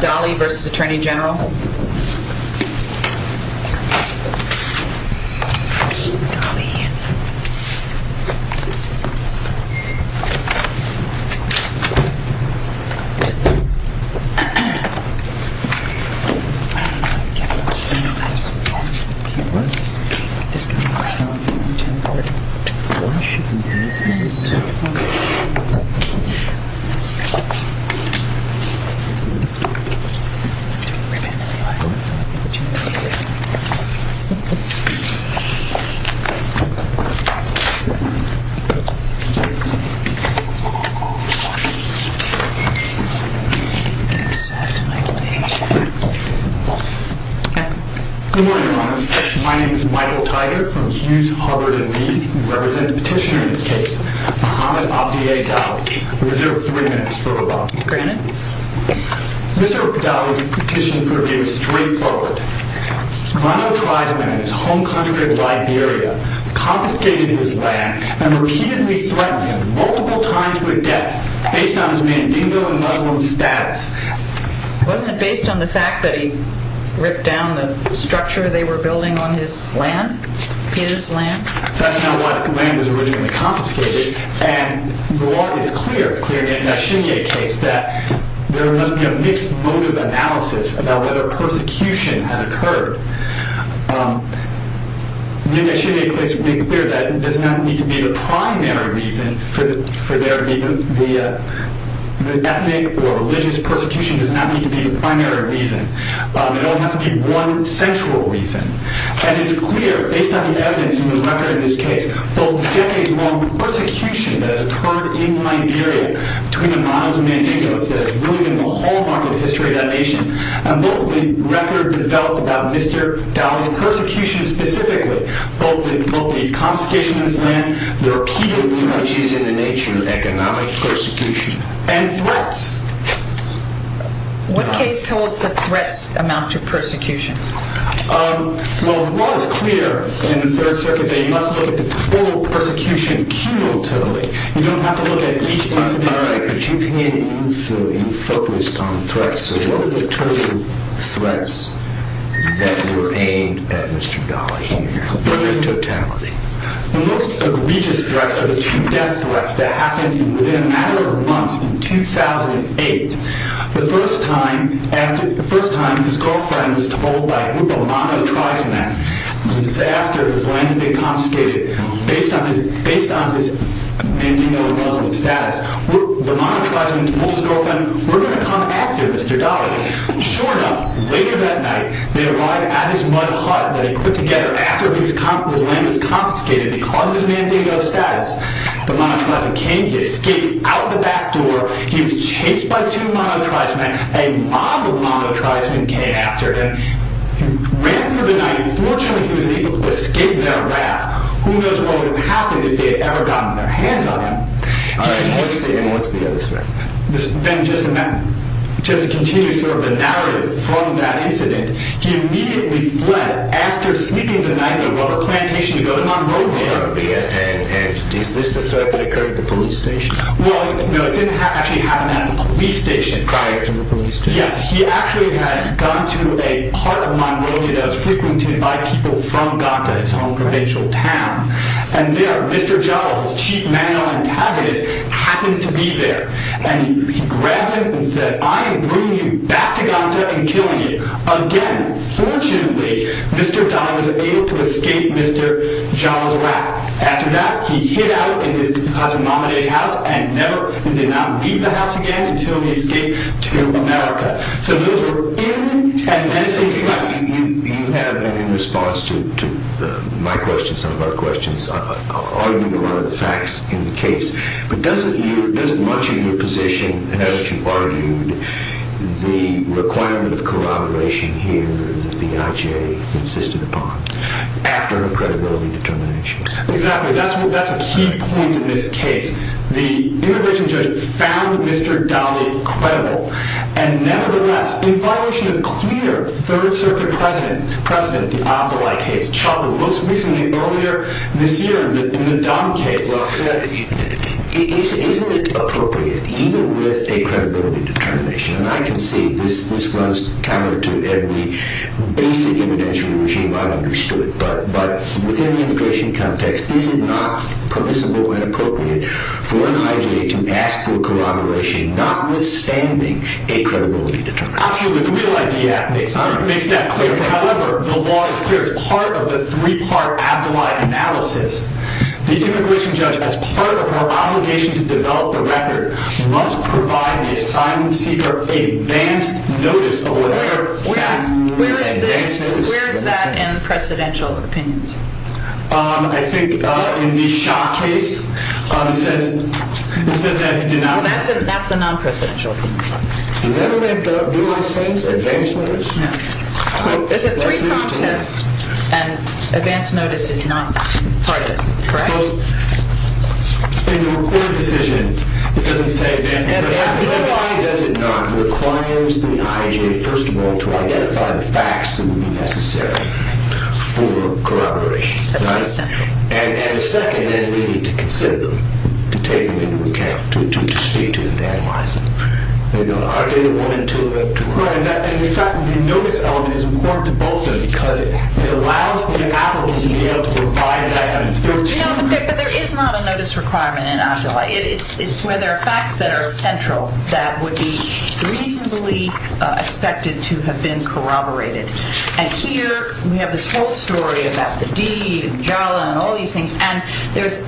Donley v. Attorney General Good morning Your Honors. My name is Michael Tiger from Hughes, Harvard & Mead and I represent the petitioner in this case, Mohamed Abdi-Adel. We reserve three minutes for rebuttal. Mr. Dolly's petition for review is straightforward. Mano Triesman in his home country of Liberia confiscated his land and repeatedly threatened him multiple times with death based on his Mandingo and Muslim status. Wasn't it based on the fact that he ripped down the structure they were building on his land? That's not what the land was originally confiscated and the law is clear, it's clear in the Indashinia case that there must be a mixed motive analysis about whether persecution has occurred. The Indashinia case made clear that it does not need to be the primary reason for there to be an ethnic or religious persecution. It does not need to be the primary reason. It is clear, based on the evidence in the record in this case, both the decades-long persecution that has occurred in Liberia between the models of Mandingo that has really been the hallmark of the history of that nation and both the record developed about Mr. Dolly's persecution specifically, both the confiscation of his land, the repeated theologies in the nature of economic persecution, and threats. What case holds that threats amount to persecution? Well, the law is clear in the Third Circuit that you must look at the total persecution cumulatively. You don't have to look at each case individually, but you can if you're focused on threats. So what are the total threats that were aimed at Mr. Dolly here? What is totality? The most egregious threats are the two death threats that happened within a matter of months in 2008. The first time his girlfriend was told by a group of monetarism men after his land had been confiscated based on his Mandingo-Russell status, the monetarism men told his girlfriend, we're going to come after Mr. Dolly. Sure enough, later that night, they arrived at his mud hut that he put together after his land was confiscated because of his Mandingo Russell status. The monetarism came to escape out the back door. He was chased by two monetarism men. A mob of monetarism men came after him. He ran for the night. Fortunately, he was able to escape their wrath. Who knows what would have happened if they had ever gotten their hands on him. All right. What's the other threat? Then just to continue sort of the narrative from that incident, he immediately fled after sleeping the night at a rubber plantation to go to Monrovia. And is this the threat that occurred at the police station? Well, no, it didn't actually happen at the police station. Prior to the police station? Yes, he actually had gone to a part of Monrovia that was frequented by people from Ganta, his home provincial town. And there, Mr. Dolly's chief, Manuel Antavez, happened to be there. And he grabbed him and said, I am bringing you back to Ganta and killing you. Again, fortunately, Mr. Dolly was able to escape Mr. Jawa's wrath. After that, he hid out in his cousin Mamaday's house and never did not leave the house again until he escaped to America. So those were in and then it seems less. You have been in response to my questions, some of our questions, arguing a lot of the facts in the case. But doesn't much in your position, as you argued, the requirement of the IJ insisted upon after a credibility determination? Exactly. That's a key point in this case. The immigration judge found Mr. Dolly credible. And nevertheless, in violation of clear Third Circuit precedent, the Opolite case, most recently, earlier this year, in the Don case. Well, isn't it appropriate, even with a credibility determination, and I can see this runs counter to every basic evidentiary regime I've understood, but within the immigration context, is it not permissible and appropriate for an IJ to ask for corroboration, notwithstanding a credibility determination? Absolutely. The Real ID Act makes that clear. However, the law is clear. It's part of the three-part abdullite analysis. The immigration judge, as part of her obligation to develop the record, must provide the assignment seeker advance notice of whatever facts. Where is this, where is that in precedential opinions? I think in the Shah case, he says that he denies that. Well, that's a non-precedential opinion. Does that make no sense, advance notice? No. There's a three-part test, and advance notice is not part of it, correct? In the recorded decision, it doesn't say advance notice. Why does it not require the IJ, first of all, to identify the facts that would be necessary for corroboration? At the second. At the second, then, we need to consider them, to take them into account, to speak to them, to analyze them. Are they the one and two of them? In fact, the notice element is important to both of them because it allows the applicant to be able to provide that. No, but there is not a notice requirement in AFJLA. It's where there are facts that are central, that would be reasonably expected to have been corroborated. And here, we have this whole story about the deed, and JALA, and all these things, and there's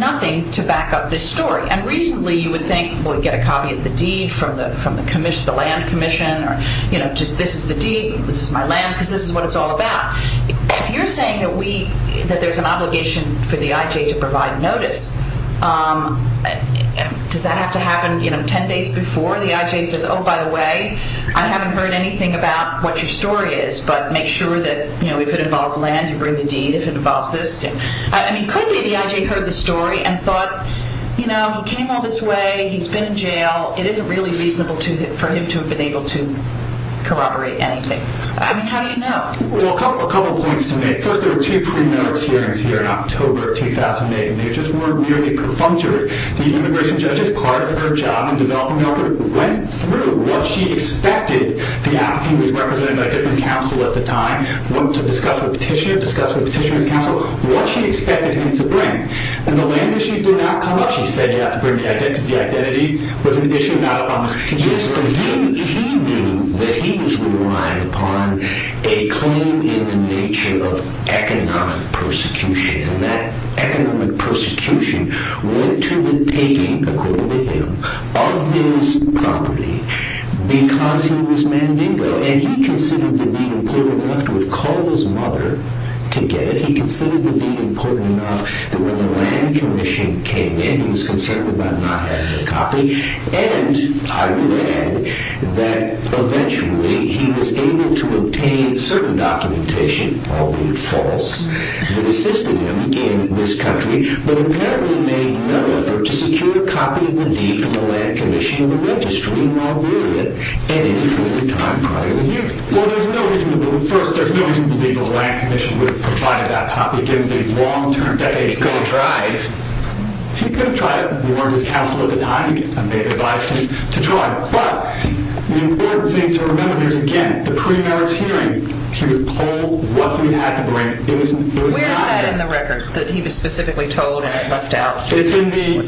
nothing to back up this story. And reasonably, you would think, well, you'd get a copy of the deed from the land commission, or, you know, just this is the deed, this is my land, because this is what it's all about. If you're saying that we, that there's an obligation for the IJ to provide notice, does that have to happen, you know, ten days before the IJ says, oh, by the way, I haven't heard anything about what your story is, but make sure that, you know, if it involves land, you bring the deed. If it involves this, I mean, could be the IJ heard the story and thought, you know, he came all this way, he's been in jail, it isn't really reasonable for him to have been able to corroborate anything. I mean, how do you know? Well, a couple of points to make. First, there were two pre-merits hearings here in October of 2008, and they just weren't really perfunctory. The immigration judge, as part of her job in developing the record, went through what she expected the applicant, who was represented by a different counsel at the time, went to discuss with the petitioner, discussed with the petitioner's counsel, what she expected him to bring. When the land issue did not come up, she said you have to bring the identity, because the identity was an issue not up on the petition. But he knew that he was relying upon a claim in the nature of economic persecution, and that economic persecution went to the taking, according to him, of his property, because he was Mandingo, and he considered the deed important enough to have called his mother to get it. He considered the deed important enough that when the land commission came in, he was concerned about not having a copy, and, I would add, that eventually he was able to obtain certain documentation, albeit false, that assisted him in this country, but apparently made no effort to secure a copy of the deed from the land commission in the registry in Liberia any further time prior to the hearing. Well, there's no reason to believe, first, there's no reason to believe the land commission would have provided that copy, given that it was long-term, decades ago. He could have tried. He could have tried. He warned his counsel at the time, and they advised him to try. But the important thing to remember here is, again, the pre-merits hearing, he was told what he had to bring. Where is that in the record, that he was specifically told and left out? It's in the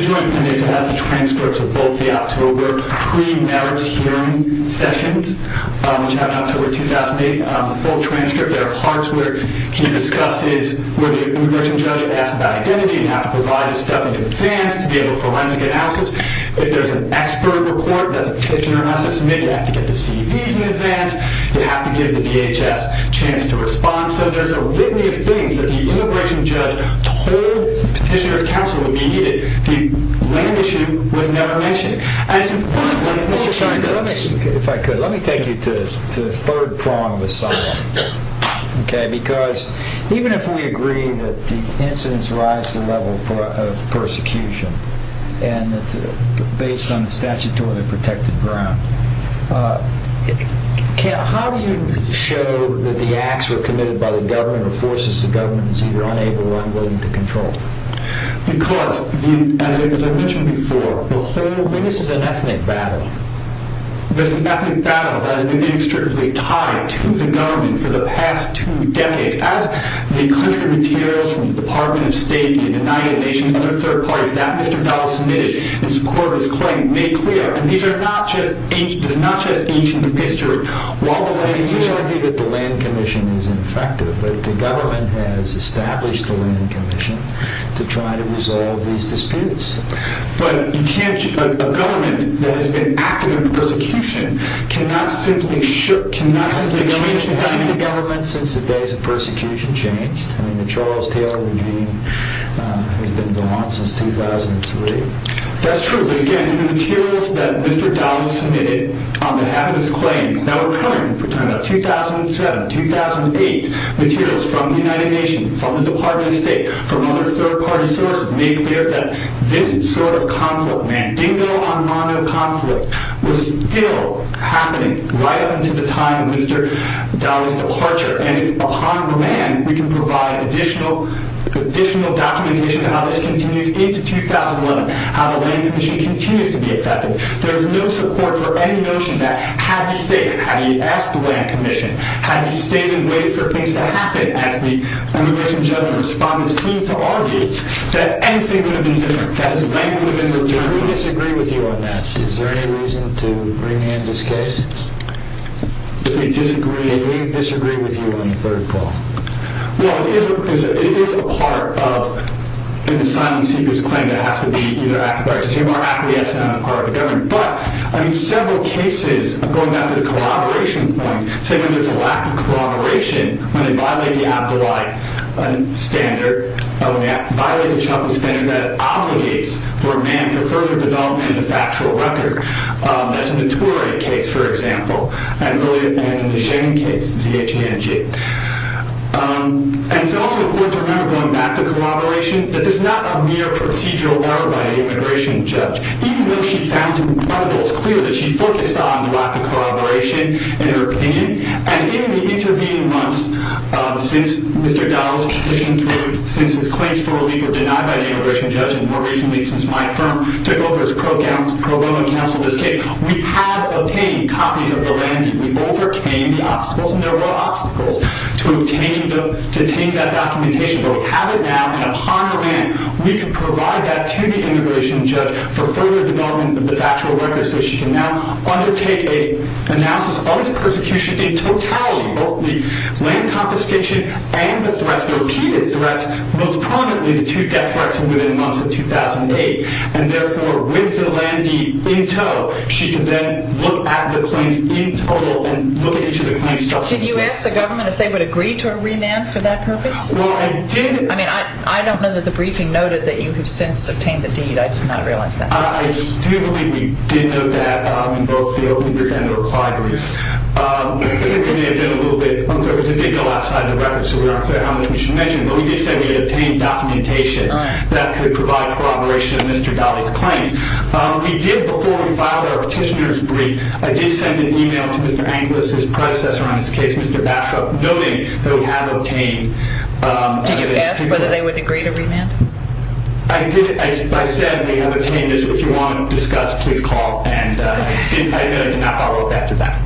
joint appendix. It has the transcripts of both the October pre-merits hearing sessions, which happened October 2008. The full transcript. There are parts where he discusses, where the immigration judge asks about identity and how to provide this stuff in advance to be able to forensic analysis. If there's an expert report that the petitioner has to submit, you have to get the CVs in advance. You have to give the DHS a chance to respond. So there's a litany of things that the immigration judge told the petitioner's counsel would be needed. The land issue was never mentioned. If I could, let me take you to the third prong of asylum. Because even if we agree that the incidents rise to the level of persecution, and it's based on statutory protected ground, how do you show that the acts were committed by the government or forces the government is either unable or unwilling to control? Because, as I mentioned before, this is an ethnic battle. This is an ethnic battle that has been inextricably tied to the government for the past two decades. As the country materials from the Department of State, the United Nations, other third parties, that Mr. Dowell submitted in support of his claim made clear, and this is not just ancient history, while the land commission... You argue that the land commission is ineffective, but the government has established the land commission to try to resolve these disputes. But you can't... A government that has been active in persecution cannot simply... The change in government since the days of persecution changed. I mean, the Charles Taylor regime has been going on since 2003. That's true. But again, the materials that Mr. Dowell submitted on behalf of his claim that were current, 2007, 2008 materials from the United Nations, from the Department of State, from other third party sources, made clear that this sort of conflict, Mandingo Armando conflict, was still happening right up until the time of Mr. Dowell's departure. And if, upon remand, we can provide additional documentation of how this continues into 2011, how the land commission continues to be effective, there is no support for any notion that had he asked the land commission, had he stayed and waited for things to happen, as the immigration judge and respondents seem to argue, that anything would have been different, that his land would have been more durable. Do we disagree with you on that? Is there any reason to bring in this case? If we disagree... If we disagree with you on the third part. Well, it is a part of an assignment to his claim that has to be either... But, I mean, several cases, going back to the corroboration point, say when there's a lack of corroboration, when they violate the Abdullahi standard, when they violate the Chafee standard, that obligates the remand for further development of the factual record. That's in the Turei case, for example, and in the Shen case, ZHNJ. And it's also important to remember, going back to corroboration, that this is not a case for the immigration judge, even though she found it incredible, it's clear that she focused on the lack of corroboration in her opinion. And in the intervening months, since Mr. Dowell's petition for... Since his claims for relief were denied by the immigration judge, and more recently, since my firm took over as pro bono counsel in this case, we have obtained copies of the land deed. We overcame the obstacles, and there were obstacles to obtaining the... To taking that documentation, but we have it now, and upon remand, we can provide that to the immigration judge for further development of the factual record, so she can now undertake an analysis of the persecution in totality, both the land confiscation and the threats, the repeated threats, most prominently the two death threats within the months of 2008. And therefore, with the land deed in tow, she can then look at the claims in total, and look at each of the claims... Did you ask the government if they would agree to a remand for that purpose? Well, I did... I mean, I don't know that the briefing noted that you have since obtained the deed. I did not realize that. I do believe we did note that in both the open and the reply brief. It may have been a little bit... It was a diggle outside the record, so we aren't clear how much we should mention, but we did say we had obtained documentation that could provide corroboration of Mr. Dowell's claims. We did, before we filed our petitioner's brief, I did send an email to Mr. Angeles, his predecessor on his case, Mr. Bashoff, noting that we have obtained... Did you ask whether they would agree to remand? I did. I said we have obtained this. If you want to discuss, please call, and I did not follow up after that.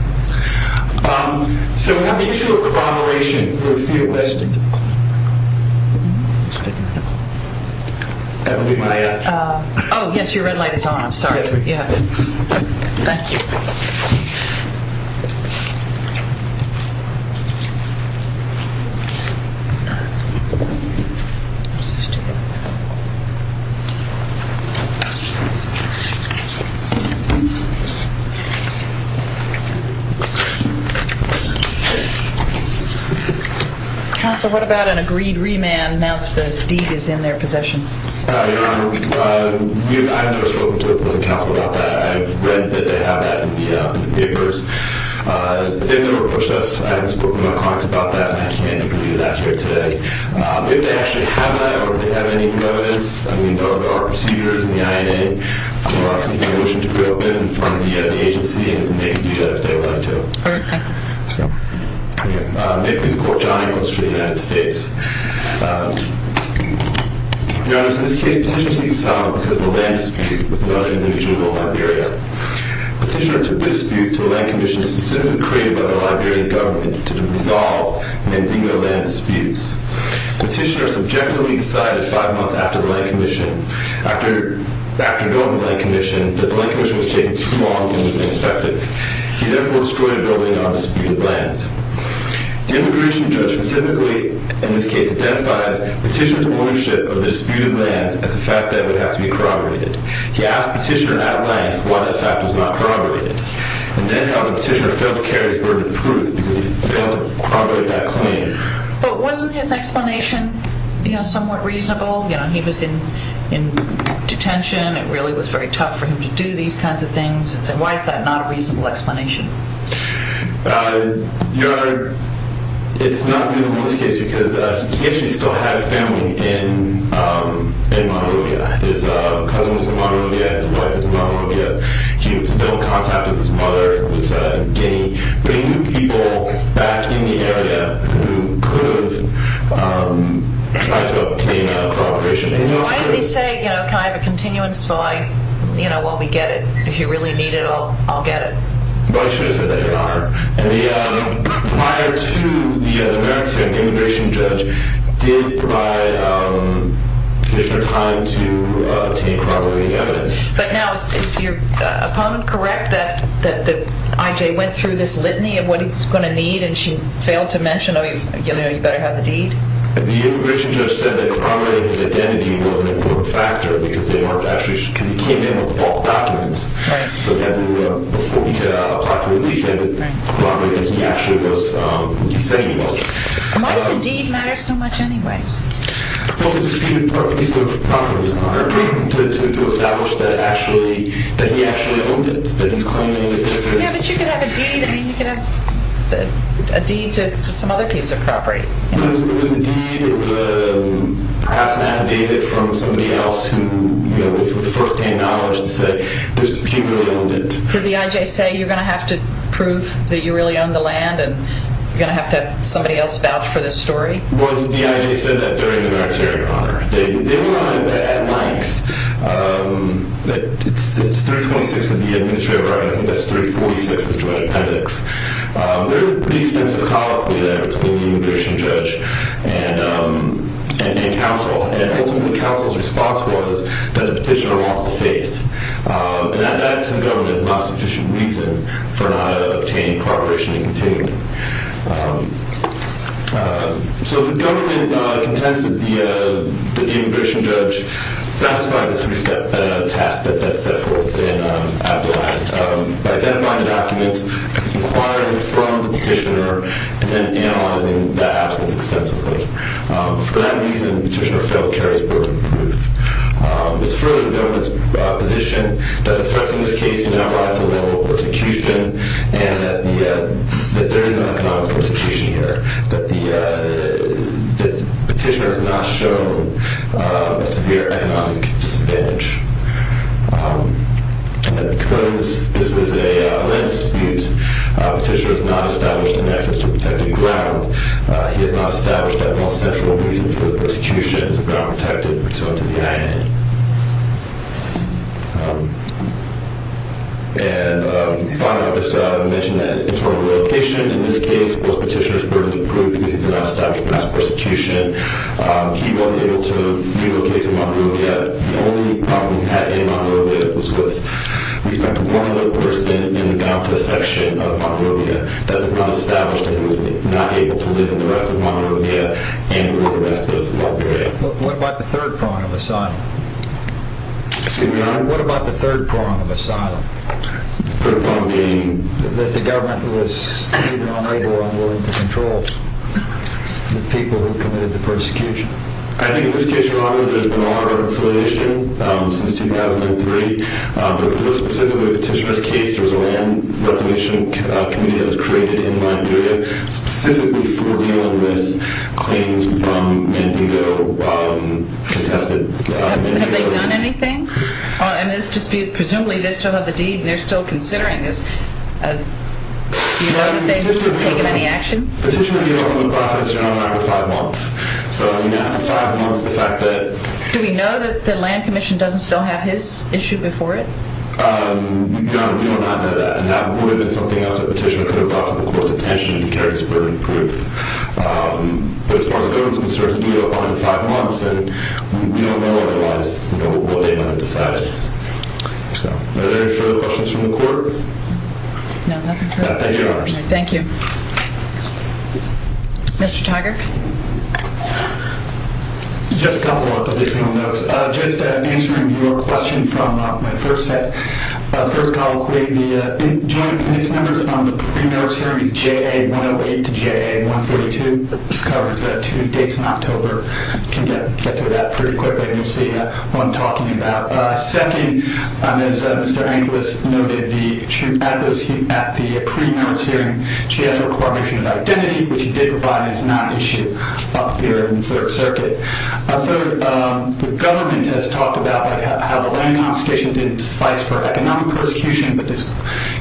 So, on the issue of corroboration, we feel that... Oh, yes, your red light is on. I'm sorry. Thank you. Thank you. Counsel, what about an agreed remand now that the deed is in their possession? Your Honor, I've never spoken to the prison counsel about that. I've read that they have that in the papers. They've never approached us. I haven't spoken to my colleagues about that, and I can't give you that here today. If they actually have that or if they have any new evidence, I mean, there are procedures in the INA for seeking a motion to pre-open in front of the agency, and they can do that if they would like to. Okay. Thank you. Thank you. This is Court John Inglis for the United States. Your Honor, in this case, petitioner seeks asylum because of a land dispute with another individual in Liberia. Petitioner took the dispute to a land commission specifically created by the Liberian government to resolve an ambiguous land disputes. Petitioner subjectively decided five months after building the land commission that the land commission was taking too long and was ineffective. He therefore destroyed a building on disputed land. The immigration judge specifically, in this case, identified petitioner's ownership of the disputed land as a fact that would have to be corroborated. He asked petitioner at length why that fact was not corroborated, and then held that petitioner failed to carry his burden of proof because he failed to corroborate that claim. But wasn't his explanation, you know, somewhat reasonable? You know, he was in detention. It really was very tough for him to do these kinds of things. Why is that not a reasonable explanation? Your Honor, it's not a reasonable explanation because he actually still had a family in Monrovia. His cousin was in Monrovia, his wife was in Monrovia. He was still in contact with his mother in Guinea, bringing new people back in the area who could have tried to obtain a corroboration. Why didn't he say, you know, can I have a continuance file, you know, while we get it? If you really need it, I'll get it. But he should have said that, Your Honor. And the prior to the merits hearing, the immigration judge did provide petitioner time to obtain corroborating evidence. But now, is your opponent correct that I.J. went through this litany of what he's going to need, and she failed to mention, you know, you better have the deed? The immigration judge said that corroborating his identity was an important factor because he came in with false documents. Right. So before he could apply for a deed, he had to corroborate that he actually was, he said he was. Why does the deed matter so much anyway? Well, it was a piece of property, Your Honor, to establish that actually, that he actually owned it, that he's claiming that this is. Yeah, but you could have a deed. I mean, you could have a deed to some other piece of property. It was a deed, perhaps an affidavit from somebody else who, you know, with first-hand knowledge to say that he really owned it. Did the.I.J. say you're going to have to prove that you really own the land and you're going to have to have somebody else vouch for this story? Well, the.I.J. said that during the merits hearing, Your Honor. They went on it at length. It's 326 of the Administrative Right, I think that's 346 of the Joint Appendix. There was a pretty extensive colloquy there between the immigration judge and counsel. And ultimately, counsel's response was that the petitioner lost the faith. And that absent government is not sufficient reason for not obtaining corroboration and continuing. So the government contends that the immigration judge satisfied the three-step task that's set forth in Abdullah by identifying the documents, inquiring from the petitioner, and then analyzing that absence extensively. For that reason, the petitioner failed to carry his burden of proof. It's fully the government's position that the threats in this case can now rise to the level of persecution and that there is no economic persecution here. That the petitioner has not shown a severe economic disadvantage. And that because this is a land dispute, the petitioner has not established an access to protected ground. He has not established that most central reason for the persecution is ground protected pursuant to the IAM. And finally, I'll just mention that internal relocation in this case was petitioner's burden of proof because he did not establish grounds for persecution. He was able to relocate to Monrovia. The only problem he had in Monrovia was with respect to one other person in the Gaza section of Monrovia. That's not established that he was not able to live in the rest of Monrovia and or the rest of Monrovia. What about the third prong of asylum? Excuse me, Your Honor? What about the third prong of asylum? The third prong being? That the government was either unable or unwilling to control the people who committed the persecution. I think in this case, Your Honor, there's been a lot of reconciliation since 2003. But for this specific petitioner's case, there was a land reclamation committee that was created in Monrovia specifically for dealing with claims from Mandingo contested communities. Have they done anything? Presumably, they still have the deed and they're still considering this. Do you know that they have taken any action? Petitioner gave up on the process, Your Honor, after five months. So after five months, the fact that... Do we know that the land commission doesn't still have his issue before it? Your Honor, we do not know that. And that would have been something else that the petitioner could have brought to the court's attention if he carried this burden of proof. But as far as the government is concerned, he blew it up only in five months. And we don't know otherwise what they might have decided. Are there any further questions from the court? No, nothing further. Thank you, Your Honor. Thank you. Mr. Tiger? Just a couple of additional notes. Just answering your question from my first set, first colloquy, the joint witness numbers on the pre-merits hearing is JA-108 to JA-142. It covers two dates in October. You can get through that pretty quickly and you'll see what I'm talking about. Second, as Mr. Angeles noted, at the pre-merits hearing, he did provide his non-issue up here in the Third Circuit. Third, the government has talked about how the land confiscation didn't suffice for economic persecution. But this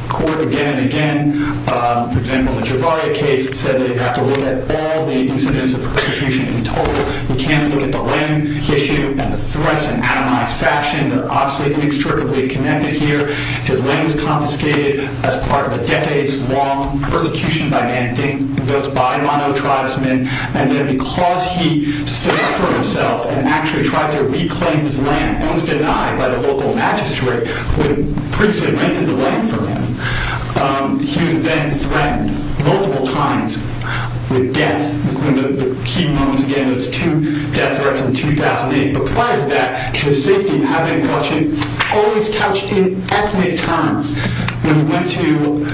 court again and again, for example, the Javaria case, said that you have to look at all the incidents of persecution in total. You can't look at the land issue and the threats in an atomized fashion. They're obviously inextricably connected here. His land was confiscated as part of a decades-long persecution by Mandink, built by Mano Tribesmen. And then because he stood up for himself and actually tried to reclaim his land, it was denied by the local magistrate who had previously rented the land for him. He was then threatened multiple times with death. One of the key moments, again, was two death threats in 2008. But prior to that, his safety and habitat in question always couched in ethnic times. When he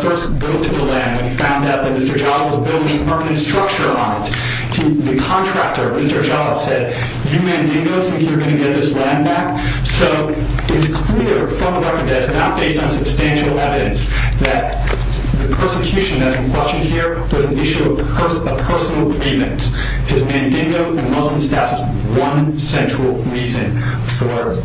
first built the land, when he found out that Mr. Jha was building urban structure on it, the contractor, Mr. Jha, said, you Mandinkos think you're going to get this land back? So it's clear from the record that it's not based on substantial evidence that the persecution that's in question here was an issue of personal grievance. His Mandinko and Muslim status was one central reason for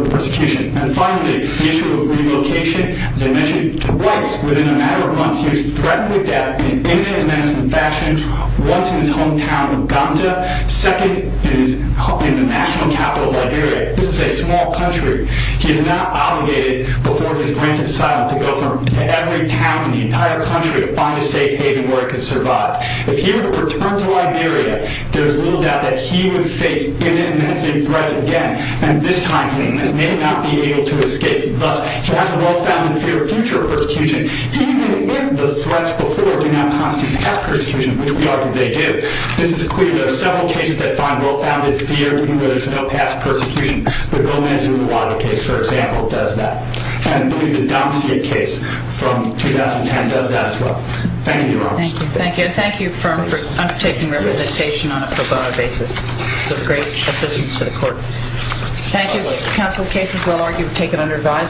the persecution. And finally, the issue of relocation. As I mentioned, twice within a matter of months, he was threatened with death in an imminent and menacing fashion, once in his hometown of Gonda, second in the national capital of Liberia. This is a small country. He is now obligated, before he is granted asylum, to go to every town in the entire country to find a safe haven where he can survive. If he were to return to Liberia, there's little doubt that he would face imminent and menacing threats again. And this time, he may not be able to escape. Thus, he has a well-founded fear of future persecution, even if the threats before do not constitute past persecution, which we argue they do. This is clear. There are several cases that find well-founded fear, even though there's no past persecution. The Gomez-Uluwatu case, for example, does that. And I believe the Domsiek case from 2010 does that as well. Thank you, Your Honor. Thank you. And thank you, firm, for undertaking representation on a pro bono basis. Some great assistance for the court. Thank you, counsel. Cases, we'll argue, were taken under advisement.